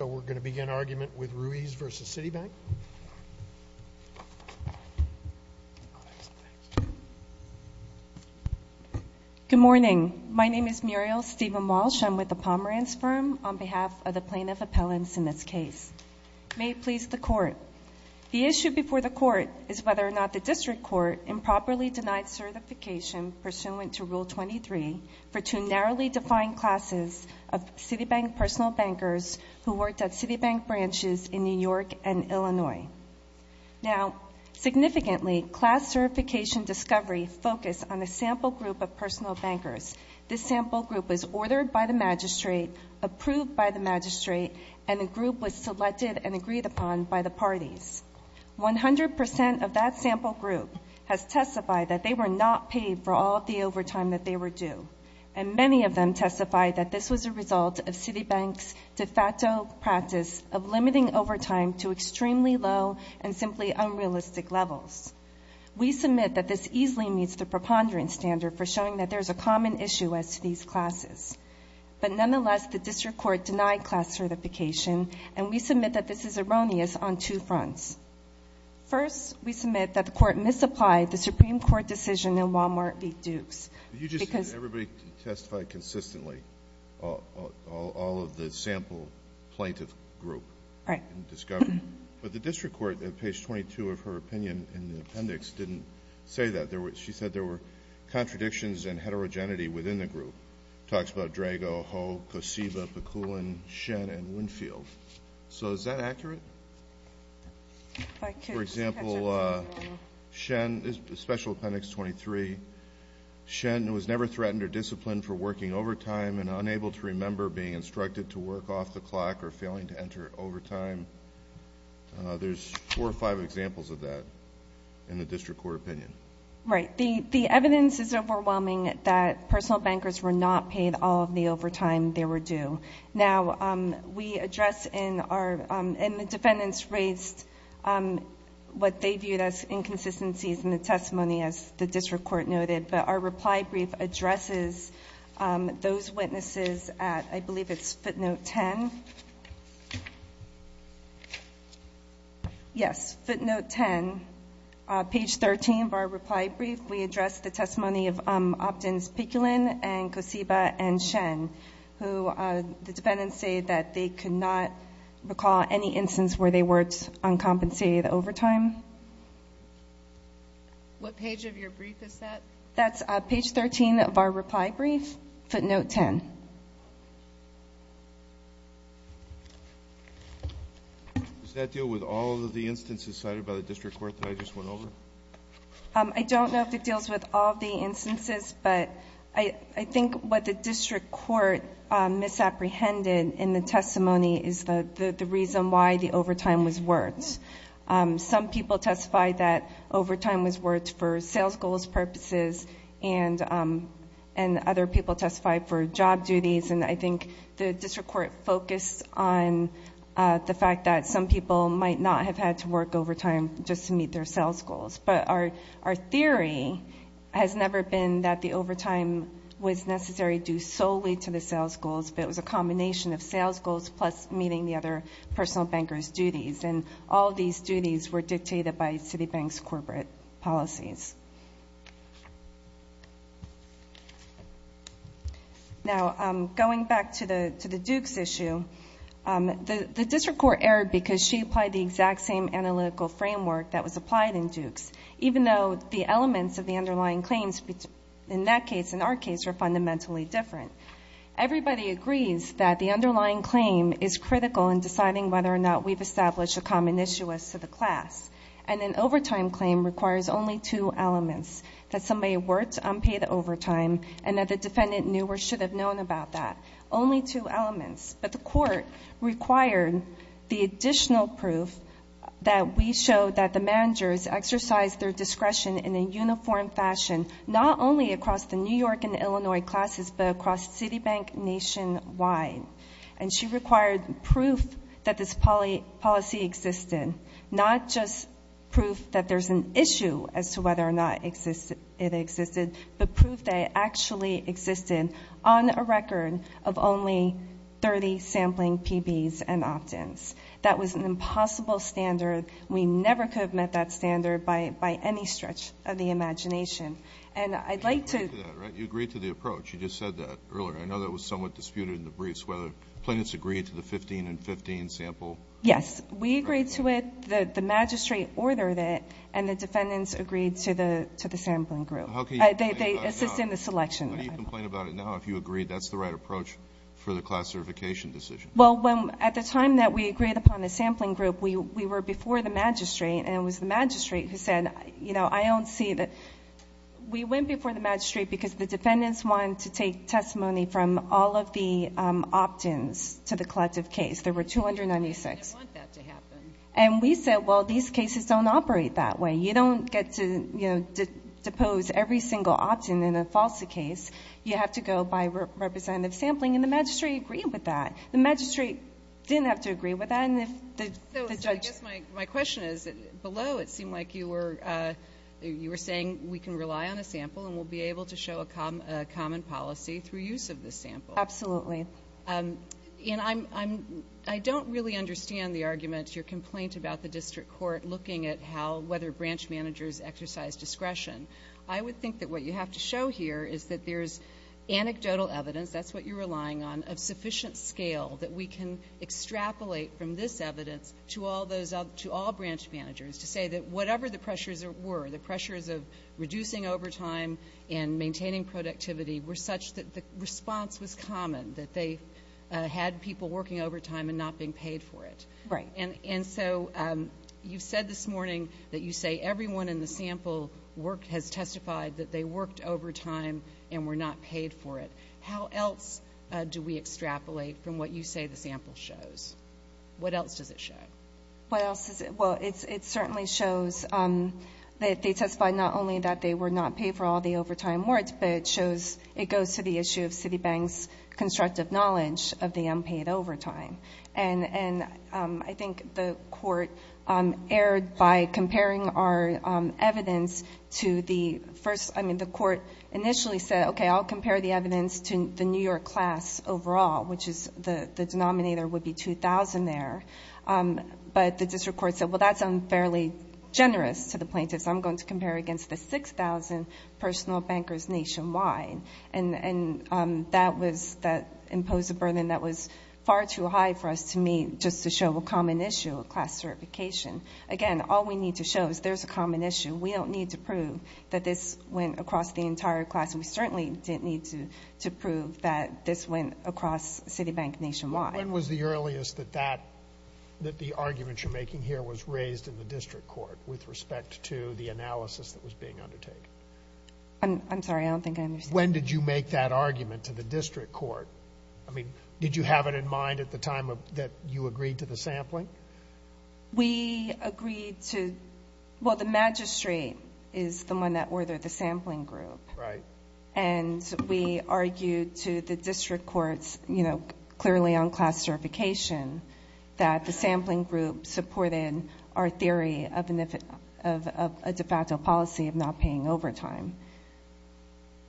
So we're going to begin argument with Ruiz v. Citibank. Good morning. My name is Muriel Stephen Walsh. I'm with the Pomerantz Firm on behalf of the plaintiff appellants in this case. May it please the court, the issue before the court is whether or not the district court improperly denied certification pursuant to Rule 23 for two narrowly defined classes of branches in New York and Illinois. Now significantly, class certification discovery focused on a sample group of personal bankers. This sample group was ordered by the magistrate, approved by the magistrate, and the group was selected and agreed upon by the parties. 100% of that sample group has testified that they were not paid for all of the overtime that they were due. And many of them testified that this was a result of Citibank's de facto practice of limiting overtime to extremely low and simply unrealistic levels. We submit that this easily meets the preponderance standard for showing that there's a common issue as to these classes. But nonetheless, the district court denied class certification, and we submit that this is erroneous on two fronts. First, we submit that the court misapplied the Supreme Court decision in Wal-Mart v. Dukes. Because You just said everybody testified consistently, all of the sample plaintiff group. Right. In discovery. But the district court, at page 22 of her opinion in the appendix, didn't say that. She said there were contradictions and heterogeneity within the group. Talks about Drago, Ho, Kosiba, Pakulin, Shen, and Winfield. So is that accurate? If I could just catch up for a moment. Shen, Special Appendix 23, Shen was never threatened or disciplined for working overtime and unable to remember being instructed to work off the clock or failing to enter overtime. There's four or five examples of that in the district court opinion. Right. The evidence is overwhelming that personal bankers were not paid all of the overtime they were due. Now, we address in our, and the defendants raised what they viewed as inconsistencies in the testimony, as the district court noted, but our reply brief addresses those witnesses at, I believe it's footnote 10. Yes, footnote 10, page 13 of our reply brief, we address the testimony of Optins, Pakulin, and Kosiba and Shen, who the defendants say that they could not recall any instance where they worked uncompensated overtime. What page of your brief is that? That's page 13 of our reply brief, footnote 10. Does that deal with all of the instances cited by the district court that I just went over? I don't know if it deals with all of the instances, but I think what the district court misapprehended in the testimony is the reason why the overtime was worked. Some people testified that overtime was worked for sales goals purposes, and other people testified for job duties, and I think the district court focused on the fact that some people might not have had to work overtime just to meet their sales goals, but our theory has never been that the overtime was necessary due solely to the sales goals, but it was a combination of sales goals plus meeting the other personal banker's duties, and all these duties were dictated by Citibank's corporate policies. Now, going back to the Dukes issue, the district court erred because she applied the exact same analytical framework that was applied in Dukes, even though the elements of the underlying claims in that case and our case are fundamentally different. Everybody agrees that the underlying claim is critical in deciding whether or not we've that somebody worked unpaid overtime, and that the defendant knew or should have known about that. Only two elements, but the court required the additional proof that we showed that the managers exercised their discretion in a uniform fashion, not only across the New York and Illinois classes, but across Citibank nationwide, and she required proof that this policy existed, not just proof that there's an issue as to whether or not it existed, but proof that it actually existed on a record of only 30 sampling PBs and opt-ins. That was an impossible standard. We never could have met that standard by any stretch of the imagination, and I'd like to – You agreed to that, right? You agreed to the approach. You just said that earlier. I know that was somewhat disputed in the briefs, whether plaintiffs agreed to the 15 and 15 sample. Yes. We agreed to it. The magistrate ordered it, and the defendants agreed to the sampling group. How can you complain about it now? They assist in the selection. How can you complain about it now if you agree that's the right approach for the class certification decision? Well, when – at the time that we agreed upon the sampling group, we were before the magistrate, and it was the magistrate who said, you know, I don't see that – we went before the magistrate because the defendants wanted to take testimony from all of the opt-ins to the collective case. There were 296. They didn't want that to happen. And we said, well, these cases don't operate that way. You don't get to, you know, depose every single opt-in in a FALSA case. You have to go by representative sampling, and the magistrate agreed with that. The magistrate didn't have to agree with that, and if the judge – So I guess my question is, below it seemed like you were saying we can rely on a sample and we'll be able to show a common policy through use of the sample. Absolutely. And I'm – I don't really understand the argument, your complaint about the district court looking at how – whether branch managers exercise discretion. I would think that what you have to show here is that there's anecdotal evidence – that's what you're relying on – of sufficient scale that we can extrapolate from this evidence to all those – to all branch managers to say that whatever the pressures were, the pressures of reducing overtime and maintaining productivity were such that the response was common, that they had people working overtime and not being paid for it. Right. And so you've said this morning that you say everyone in the sample has testified that they worked overtime and were not paid for it. How else do we extrapolate from what you say the sample shows? What else does it show? What else does it – well, it certainly shows that they testified not only that they were not paid for all the overtime work, but it shows – it goes to the issue of Citibank's constructive knowledge of the unpaid overtime. And I think the court erred by comparing our evidence to the first – I mean, the court initially said, okay, I'll compare the evidence to the New York class overall, which is – the denominator would be 2,000 there. But the district court said, well, that's unfairly generous to the plaintiffs. I'm going to compare against the 6,000 personal bankers nationwide. And that was – that imposed a burden that was far too high for us to meet just to show a common issue of class certification. Again, all we need to show is there's a common issue. We don't need to prove that this went across the entire class, and we certainly didn't need to prove that this went across Citibank nationwide. When was the earliest that that – that the argument you're making here was raised in the district court with respect to the analysis that was being undertaken? I'm sorry. I don't think I understand. When did you make that argument to the district court? I mean, did you have it in mind at the time that you agreed to the sampling? We agreed to – well, the magistrate is the one that ordered the sampling group. Right. And we argued to the district courts, you know, clearly on class certification, that the sampling group supported our theory of a de facto policy of not paying overtime.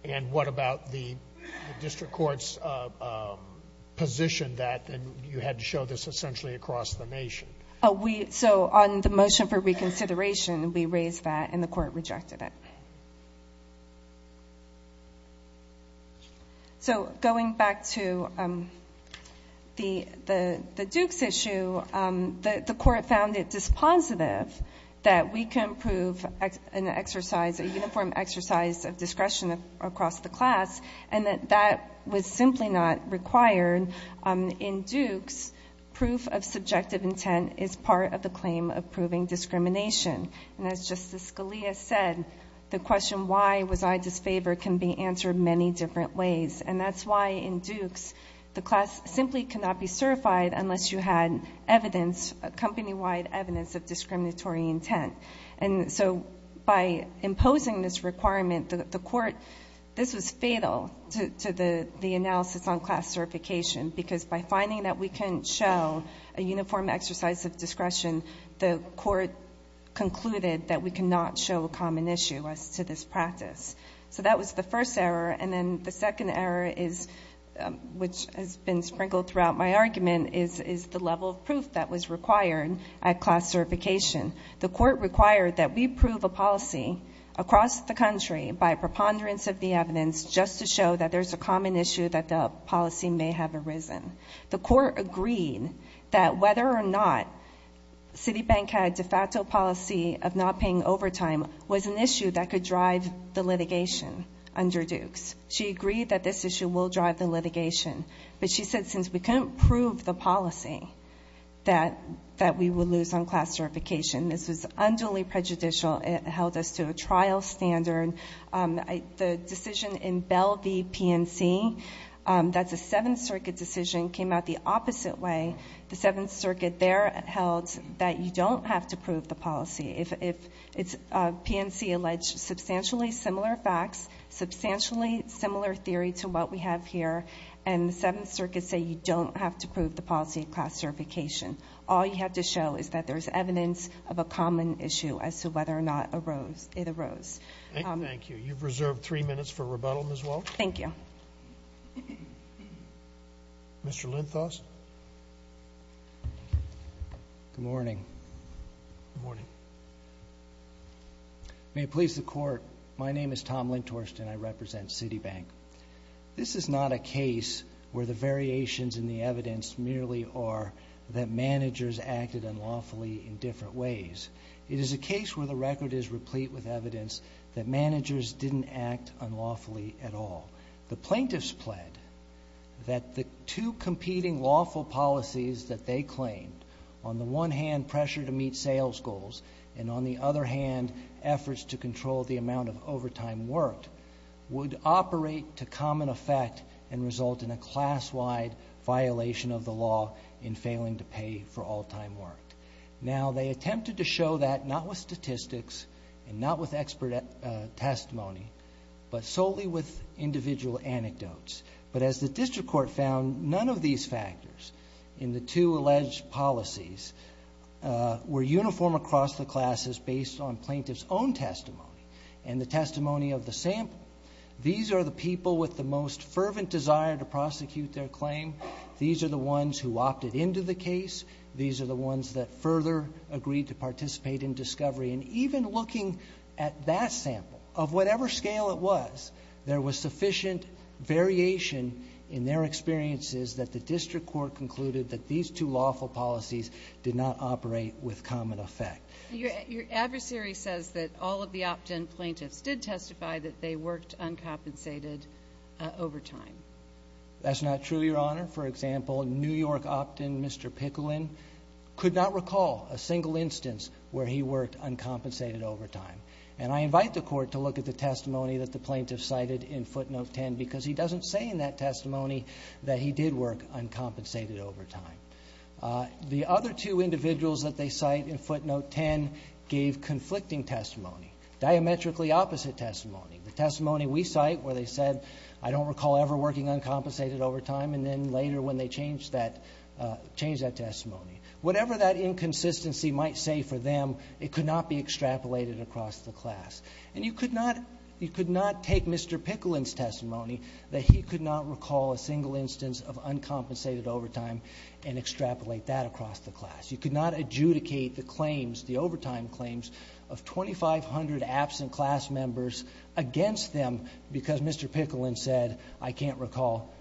And what about the district court's position that you had to show this essentially across the nation? Oh, we – so on the motion for reconsideration, we raised that, and the court rejected it. So, going back to the Duke's issue, the court found it dispositive that we can prove an exercise – a uniform exercise of discretion across the class, and that that was simply not required. In Duke's, proof of subjective intent is part of the claim of proving discrimination. And as Justice Scalia said, the question, why was I disfavored, can be answered many different ways, and that's why in Duke's, the class simply cannot be certified unless you had evidence, company-wide evidence, of discriminatory intent. And so, by imposing this requirement, the court – this was fatal to the analysis on class certification, because by finding that we can show a uniform exercise of discretion, the court concluded that we cannot show a common issue as to this practice. So that was the first error, and then the second error is – which has been sprinkled throughout my argument – is the level of proof that was required at class certification. The court required that we prove a policy across the country by preponderance of the evidence, just to show that there's a common issue that the policy may have arisen. The court agreed that whether or not Citibank had a de facto policy of not paying overtime was an issue that could drive the litigation under Duke's. She agreed that this issue will drive the litigation, but she said since we couldn't prove the policy that we would lose on class certification, this was unduly prejudicial. It held us to a trial standard. The decision in Bell v. PNC – that's a Seventh Circuit decision – came out the opposite way. The Seventh Circuit there held that you don't have to prove the policy if it's – PNC alleged substantially similar facts, substantially similar theory to what we have here, and the Seventh Circuit say you don't have to prove the policy of class certification. All you have to show is that there's evidence of a common issue as to whether or not it arose. Thank you. You've reserved three minutes for rebuttal, Ms. Walsh. Thank you. Mr. Linthos. Good morning. Good morning. May it please the Court, my name is Tom Linthorst and I represent Citibank. This is not a case where the variations in the evidence merely are that managers acted unlawfully in different ways. It is a case where the record is replete with evidence that managers didn't act unlawfully at all. The plaintiffs pled that the two competing lawful policies that they claimed – on the one hand, pressure to meet sales goals, and on the other hand, efforts to control the amount of overtime worked – would operate to common effect and result in a class-wide violation of the law in failing to pay for all-time work. Now, they attempted to show that not with statistics and not with expert testimony, but solely with individual anecdotes. But as the district court found, none of these factors in the two alleged policies were uniform across the classes based on plaintiff's own testimony and the testimony of the sample. These are the people with the most fervent desire to prosecute their claim. These are the ones who opted into the case. These are the ones that further agreed to participate in discovery. And even looking at that sample, of whatever scale it was, there was sufficient variation in their experiences that the district court concluded that these two lawful policies did not operate with common effect. Your adversary says that all of the opt-in plaintiffs did testify that they worked uncompensated overtime. That's not true, Your Honor. For example, New York opt-in, Mr. Picoulin, could not recall a single instance where he worked uncompensated overtime. And I invite the Court to look at the testimony that the plaintiff cited in footnote 10, because he doesn't say in that testimony that he did work uncompensated overtime. The other two individuals that they cite in footnote 10 gave conflicting testimony, diametrically opposite testimony. The testimony we cite, where they said, I don't recall ever working uncompensated overtime. And then later when they changed that testimony. Whatever that inconsistency might say for them, it could not be extrapolated across the class. And you could not take Mr. Picoulin's testimony that he could not recall a single instance of uncompensated overtime and extrapolate that across the class. You could not adjudicate the claims, the overtime claims, of 2,500 absent class members against them because Mr. Picoulin said, I can't recall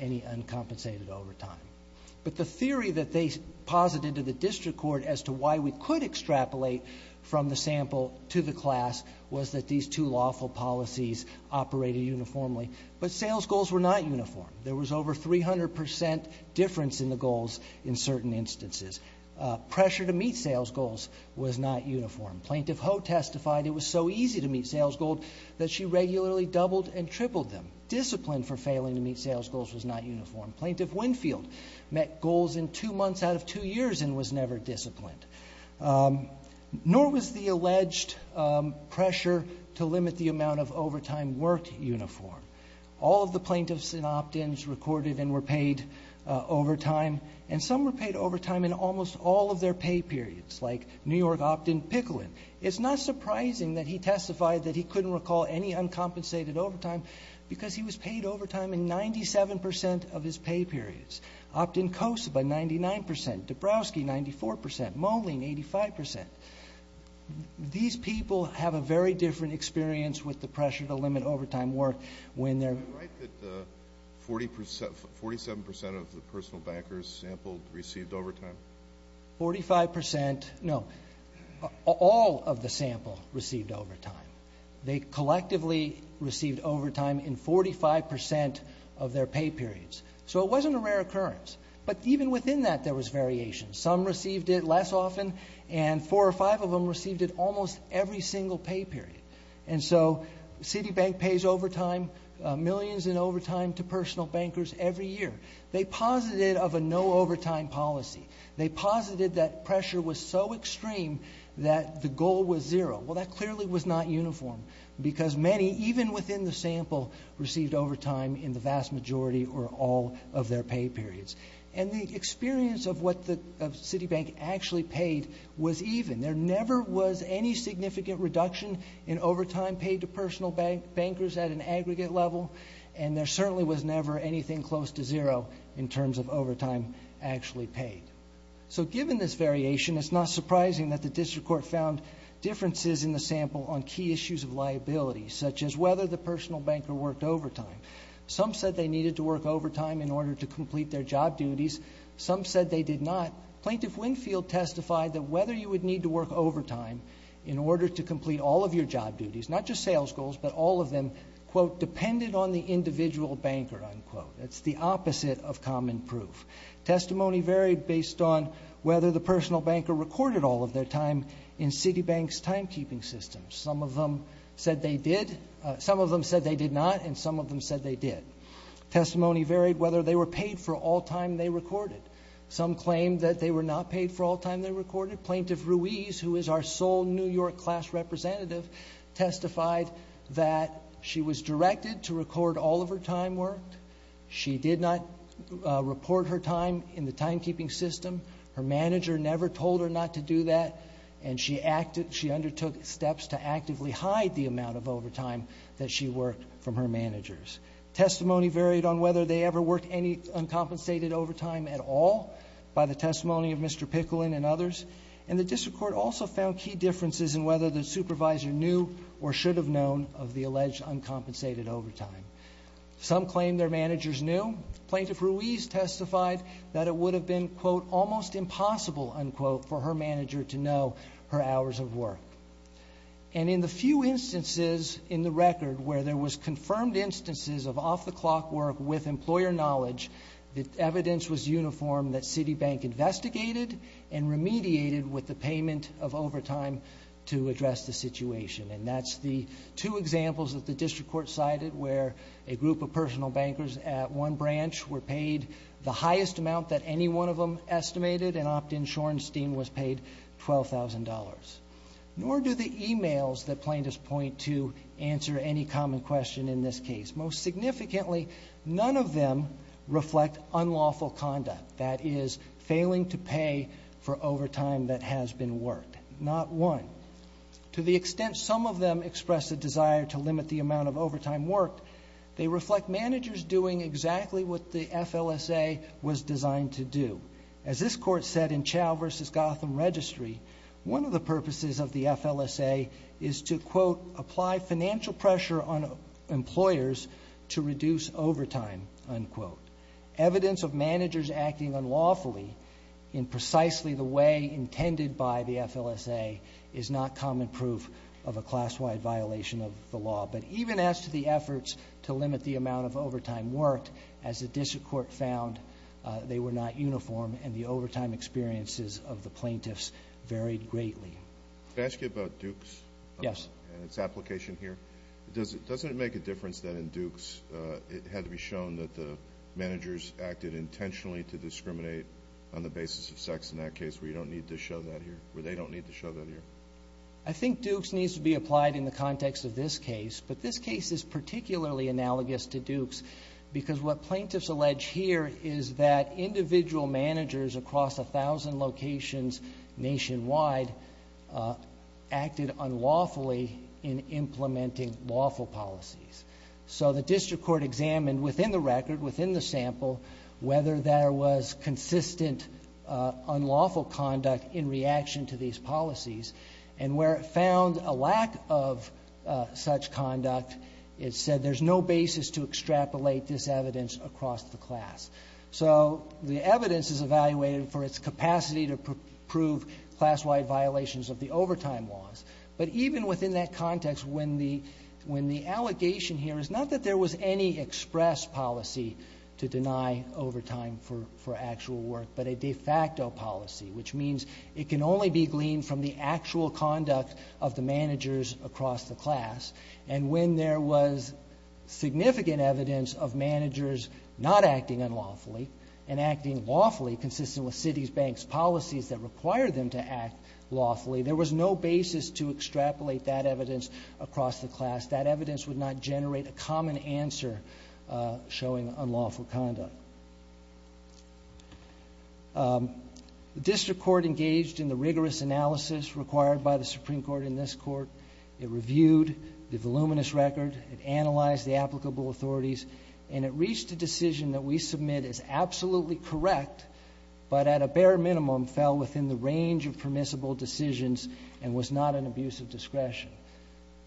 any uncompensated overtime. But the theory that they posited to the District Court as to why we could extrapolate from the sample to the class was that these two lawful policies operated uniformly. But sales goals were not uniform. There was over 300 percent difference in the goals in certain instances. Pressure to meet sales goals was not uniform. Plaintiff Ho testified it was so easy to meet sales goals that she regularly doubled and tripled them. Discipline for failing to meet sales goals was not uniform. Plaintiff Winfield met goals in two months out of two years and was never disciplined. Nor was the alleged pressure to limit the amount of overtime work uniform. All of the plaintiffs and opt-ins recorded and were paid overtime. And some were paid overtime in almost all of their pay periods, like New York opt-in Picoulin. It's not surprising that he testified that he couldn't recall any uncompensated overtime because he was paid overtime in 97 percent of his pay periods. Opt-in Kosova, 99 percent, Dabrowski, 94 percent, Moline, 85 percent. These people have a very different experience with the pressure to limit overtime work when they're- Are you right that 47 percent of the personal bankers sampled received overtime? 45 percent, no, all of the sample received overtime. They collectively received overtime in 45 percent of their pay periods. So it wasn't a rare occurrence. But even within that, there was variation. Some received it less often and four or five of them received it almost every single pay period. And so Citibank pays overtime, millions in overtime to personal bankers every year. They posited of a no overtime policy. They posited that pressure was so extreme that the goal was zero. Well, that clearly was not uniform because many, even within the sample, received overtime in the vast majority or all of their pay periods. And the experience of what the Citibank actually paid was even. There never was any significant reduction in overtime paid to personal bankers at an aggregate level. And there certainly was never anything close to zero in terms of overtime actually paid. So given this variation, it's not surprising that the district court found differences in the sample on key issues of liability such as whether the personal banker worked overtime. Some said they needed to work overtime in order to complete their job duties. Some said they did not. Plaintiff Winfield testified that whether you would need to work overtime in order to complete all of your job duties, not just sales goals, but all of them, quote, depended on the individual banker, unquote. It's the opposite of common proof. Testimony varied based on whether the personal banker recorded all of their time in Citibank's timekeeping system. Some of them said they did. Some of them said they did not and some of them said they did. Testimony varied whether they were paid for all time they recorded. Some claimed that they were not paid for all time they recorded. Plaintiff Ruiz, who is our sole New York class representative, testified that she was directed to record all of her time worked. She did not report her time in the timekeeping system. Her manager never told her not to do that and she undertook steps to actively hide the amount of overtime that she worked from her managers. Testimony varied on whether they ever worked any uncompensated overtime at all by the testimony of Mr. Pickling and others. And the district court also found key differences in whether the supervisor knew or should have known of the alleged uncompensated overtime. Some claimed their managers knew. Plaintiff Ruiz testified that it would have been, quote, almost impossible, unquote, for her manager to know her hours of work. And in the few instances in the record where there was confirmed instances of off-the-clock work with employer knowledge, the evidence was uniform that Citibank investigated and remediated with the payment of overtime to address the situation. And that's the two examples that the district court cited where a group of personal bankers at one branch were paid the highest amount that any one of them estimated and Optin Shorenstein was paid $12,000. Nor do the emails that plaintiffs point to answer any common question in this case. Most significantly, none of them reflect unlawful conduct. That is, failing to pay for overtime that has been worked. Not one. To the extent some of them express a desire to limit the amount of overtime worked, they reflect managers doing exactly what the FLSA was designed to do. As this court said in Chau v. Gotham Registry, one of the purposes of the FLSA is to, quote, apply financial pressure on employers to reduce overtime, unquote. Evidence of managers acting unlawfully in precisely the way intended by the FLSA is not common proof of a class-wide violation of the law. But even as to the efforts to limit the amount of overtime worked, as the district court found, they were not uniform, and the overtime experiences of the plaintiffs varied greatly. Can I ask you about Dukes? Yes. And its application here? Doesn't it make a difference that in Dukes it had to be shown that the managers acted intentionally to discriminate on the basis of sex in that case where you don't need to show that here, where they don't need to show that here? I think Dukes needs to be applied in the context of this case, but this case is particularly analogous to Dukes because what plaintiffs allege here is that individual managers across a thousand locations nationwide acted unlawfully in implementing lawful policies. So the district court examined within the record, within the sample, whether there was consistent unlawful conduct in reaction to these policies, and where it found a lack of such conduct, it said there's no basis to extrapolate this evidence across the class. So the evidence is evaluated for its capacity to prove class-wide violations of the overtime laws. But even within that context, when the allegation here is not that there was any express policy to deny overtime for actual work, but a de facto policy, which means it can only be gleaned from the actual conduct of the managers across the class, and when there was significant evidence of managers not acting unlawfully and acting lawfully, consistent with Citi's Bank's policies that require them to act lawfully, there was no basis to extrapolate that evidence across the class. That evidence would not generate a common answer showing unlawful conduct. The district court engaged in the rigorous analysis required by the Supreme Court in this Court. It reviewed the voluminous record. It analyzed the applicable authorities. And it reached a decision that we submit as absolutely correct, but at a bare minimum fell within the range of permissible decisions and was not an abuse of discretion.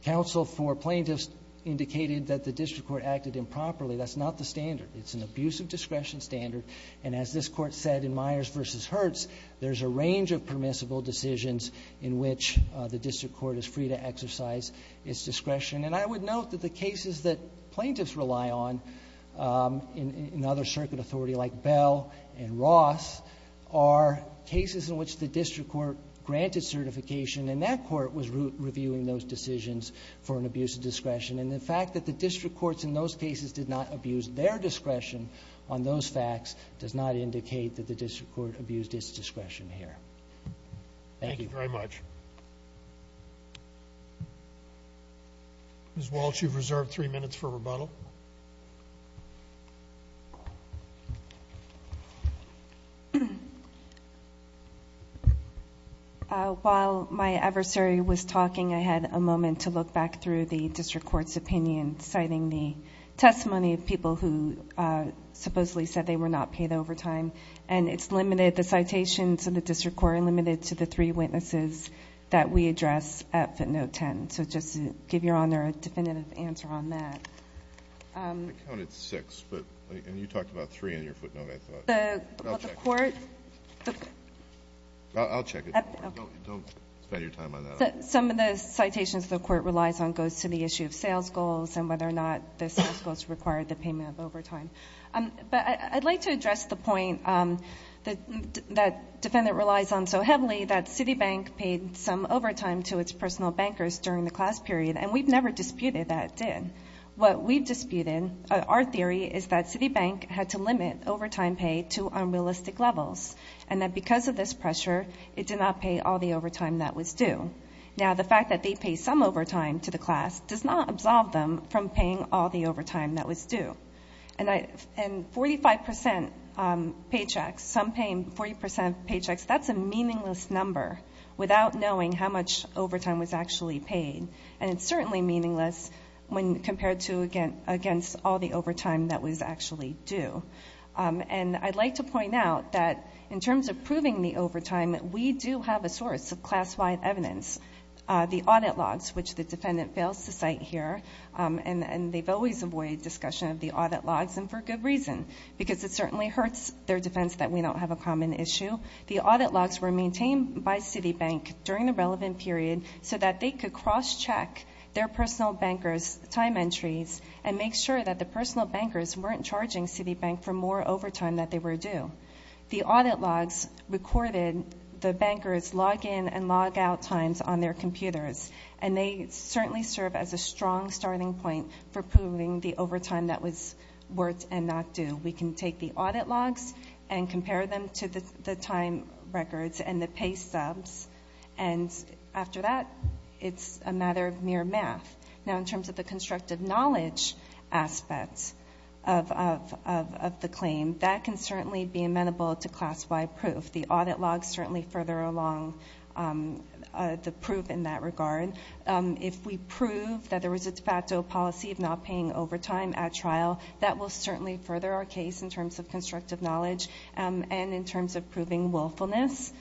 Counsel for plaintiffs indicated that the district court acted improperly. That's not the standard. It's an abuse of discretion standard. And as this Court said in Myers v. Hertz, there's a range of permissible decisions in which the district court is free to exercise its discretion. And I would note that the cases that plaintiffs rely on in other circuit authority like Bell and Ross are cases in which the district court granted certification and that court was reviewing those decisions for an abuse of discretion. And the fact that the district courts in those cases did not abuse their discretion on those facts does not indicate that the district court abused its discretion here. Thank you. Thank you very much. Ms. Walsh, you've reserved three minutes for rebuttal. While my adversary was talking, I had a moment to look back through the district court's opinion, citing the testimony of people who supposedly said they were not paid overtime. And it's limited, the citations of the district court are limited to the three witnesses that we address at footnote 10. So just to give Your Honor a definitive answer on that. I counted six, but you talked about three in your footnote, I thought. The court. I'll check it. Don't spend your time on that. Some of the citations the court relies on goes to the issue of sales goals and whether or not the sales goals require the payment of overtime. But I'd like to address the point that defendant relies on so heavily that Citibank paid some overtime to its personal bankers during the class period. And we've never disputed that it did. What we've disputed, our theory is that Citibank had to limit overtime pay to unrealistic levels. And that because of this pressure, it did not pay all the overtime that was due. Now the fact that they pay some overtime to the class does not absolve them from paying all the overtime that was due. And 45% paychecks, some paying 40% paychecks, that's a meaningless number without knowing how much overtime was actually paid. And it's certainly meaningless when compared to against all the overtime that was actually due. And I'd like to point out that in terms of proving the overtime, we do have a source of class-wide evidence. The audit logs, which the defendant fails to cite here. And they've always avoided discussion of the audit logs and for good reason. Because it certainly hurts their defense that we don't have a common issue. The audit logs were maintained by Citibank during the relevant period so that they could cross-check their personal bankers' time entries and make sure that the personal bankers weren't charging Citibank for more overtime that they were due. The audit logs recorded the bankers' log-in and log-out times on their computers. And they certainly serve as a strong starting point for proving the overtime that was worth and not due. We can take the audit logs and compare them to the time records and the pay subs. And after that, it's a matter of mere math. Now in terms of the constructive knowledge aspects of the claim, that can certainly be amenable to class-wide proof. The audit logs certainly further along the proof in that regard. If we prove that there was a de facto policy of not paying overtime at trial, that will certainly further our case in terms of constructive knowledge and in terms of proving willfulness.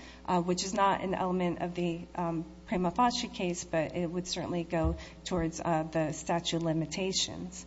Which is not an element of the Prima Foschi case, but it would certainly go towards the statute of limitations.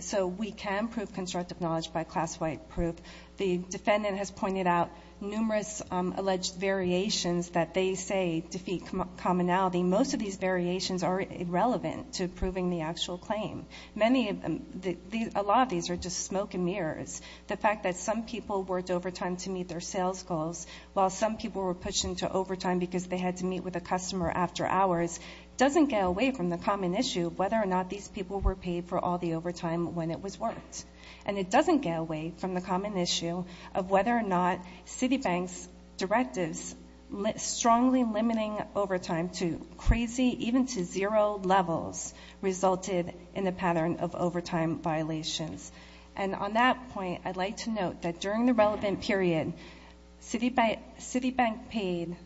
So we can prove constructive knowledge by class-wide proof. The defendant has pointed out numerous alleged variations that they say defeat commonality. Most of these variations are irrelevant to proving the actual claim. Many of them, a lot of these are just smoke and mirrors. The fact that some people worked overtime to meet their sales goals, while some people were pushed into overtime because they had to meet with a customer after hours, doesn't get away from the common issue of whether or not these people were paid for all the overtime when it was worked. And it doesn't get away from the common issue of whether or not Citibank's directives strongly limiting overtime to crazy, even to zero levels, resulted in a pattern of overtime violations. And on that point, I'd like to note that during the relevant period, Citibank paid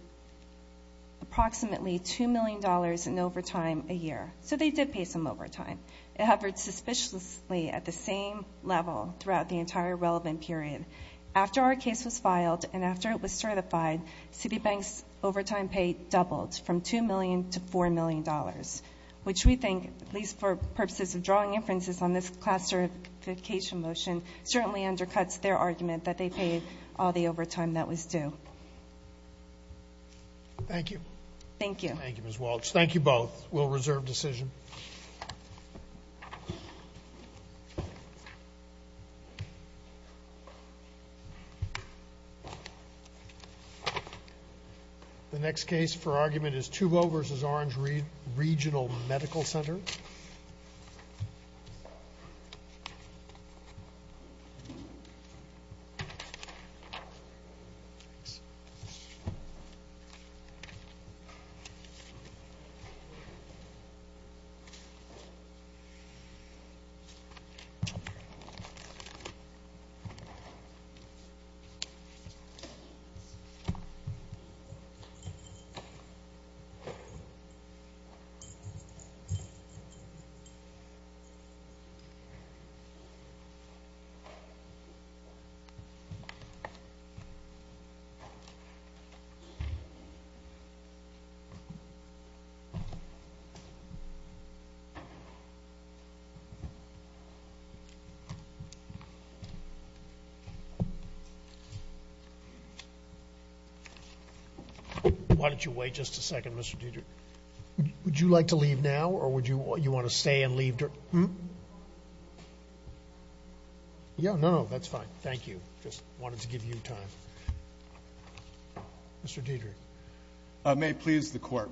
approximately $2 million in overtime a year. So they did pay some overtime. It hovered suspiciously at the same level throughout the entire relevant period. After our case was filed, and after it was certified, Citibank's overtime pay doubled from $2 million to $4 million. Which we think, at least for purposes of drawing inferences on this classification motion, certainly undercuts their argument that they paid all the overtime that was due. Thank you. Thank you. Thank you, Ms. Walsh. Thank you both. We'll reserve decision. The next case for argument is 2-0 versus Orange Regional Medical Center. Orange Regional Medical Center. Why don't you wait just a second, Mr. Deidre? Would you like to leave now, or would you want to stay and leave? Yeah, no, that's fine. Thank you. Just wanted to give you time. I may please the court.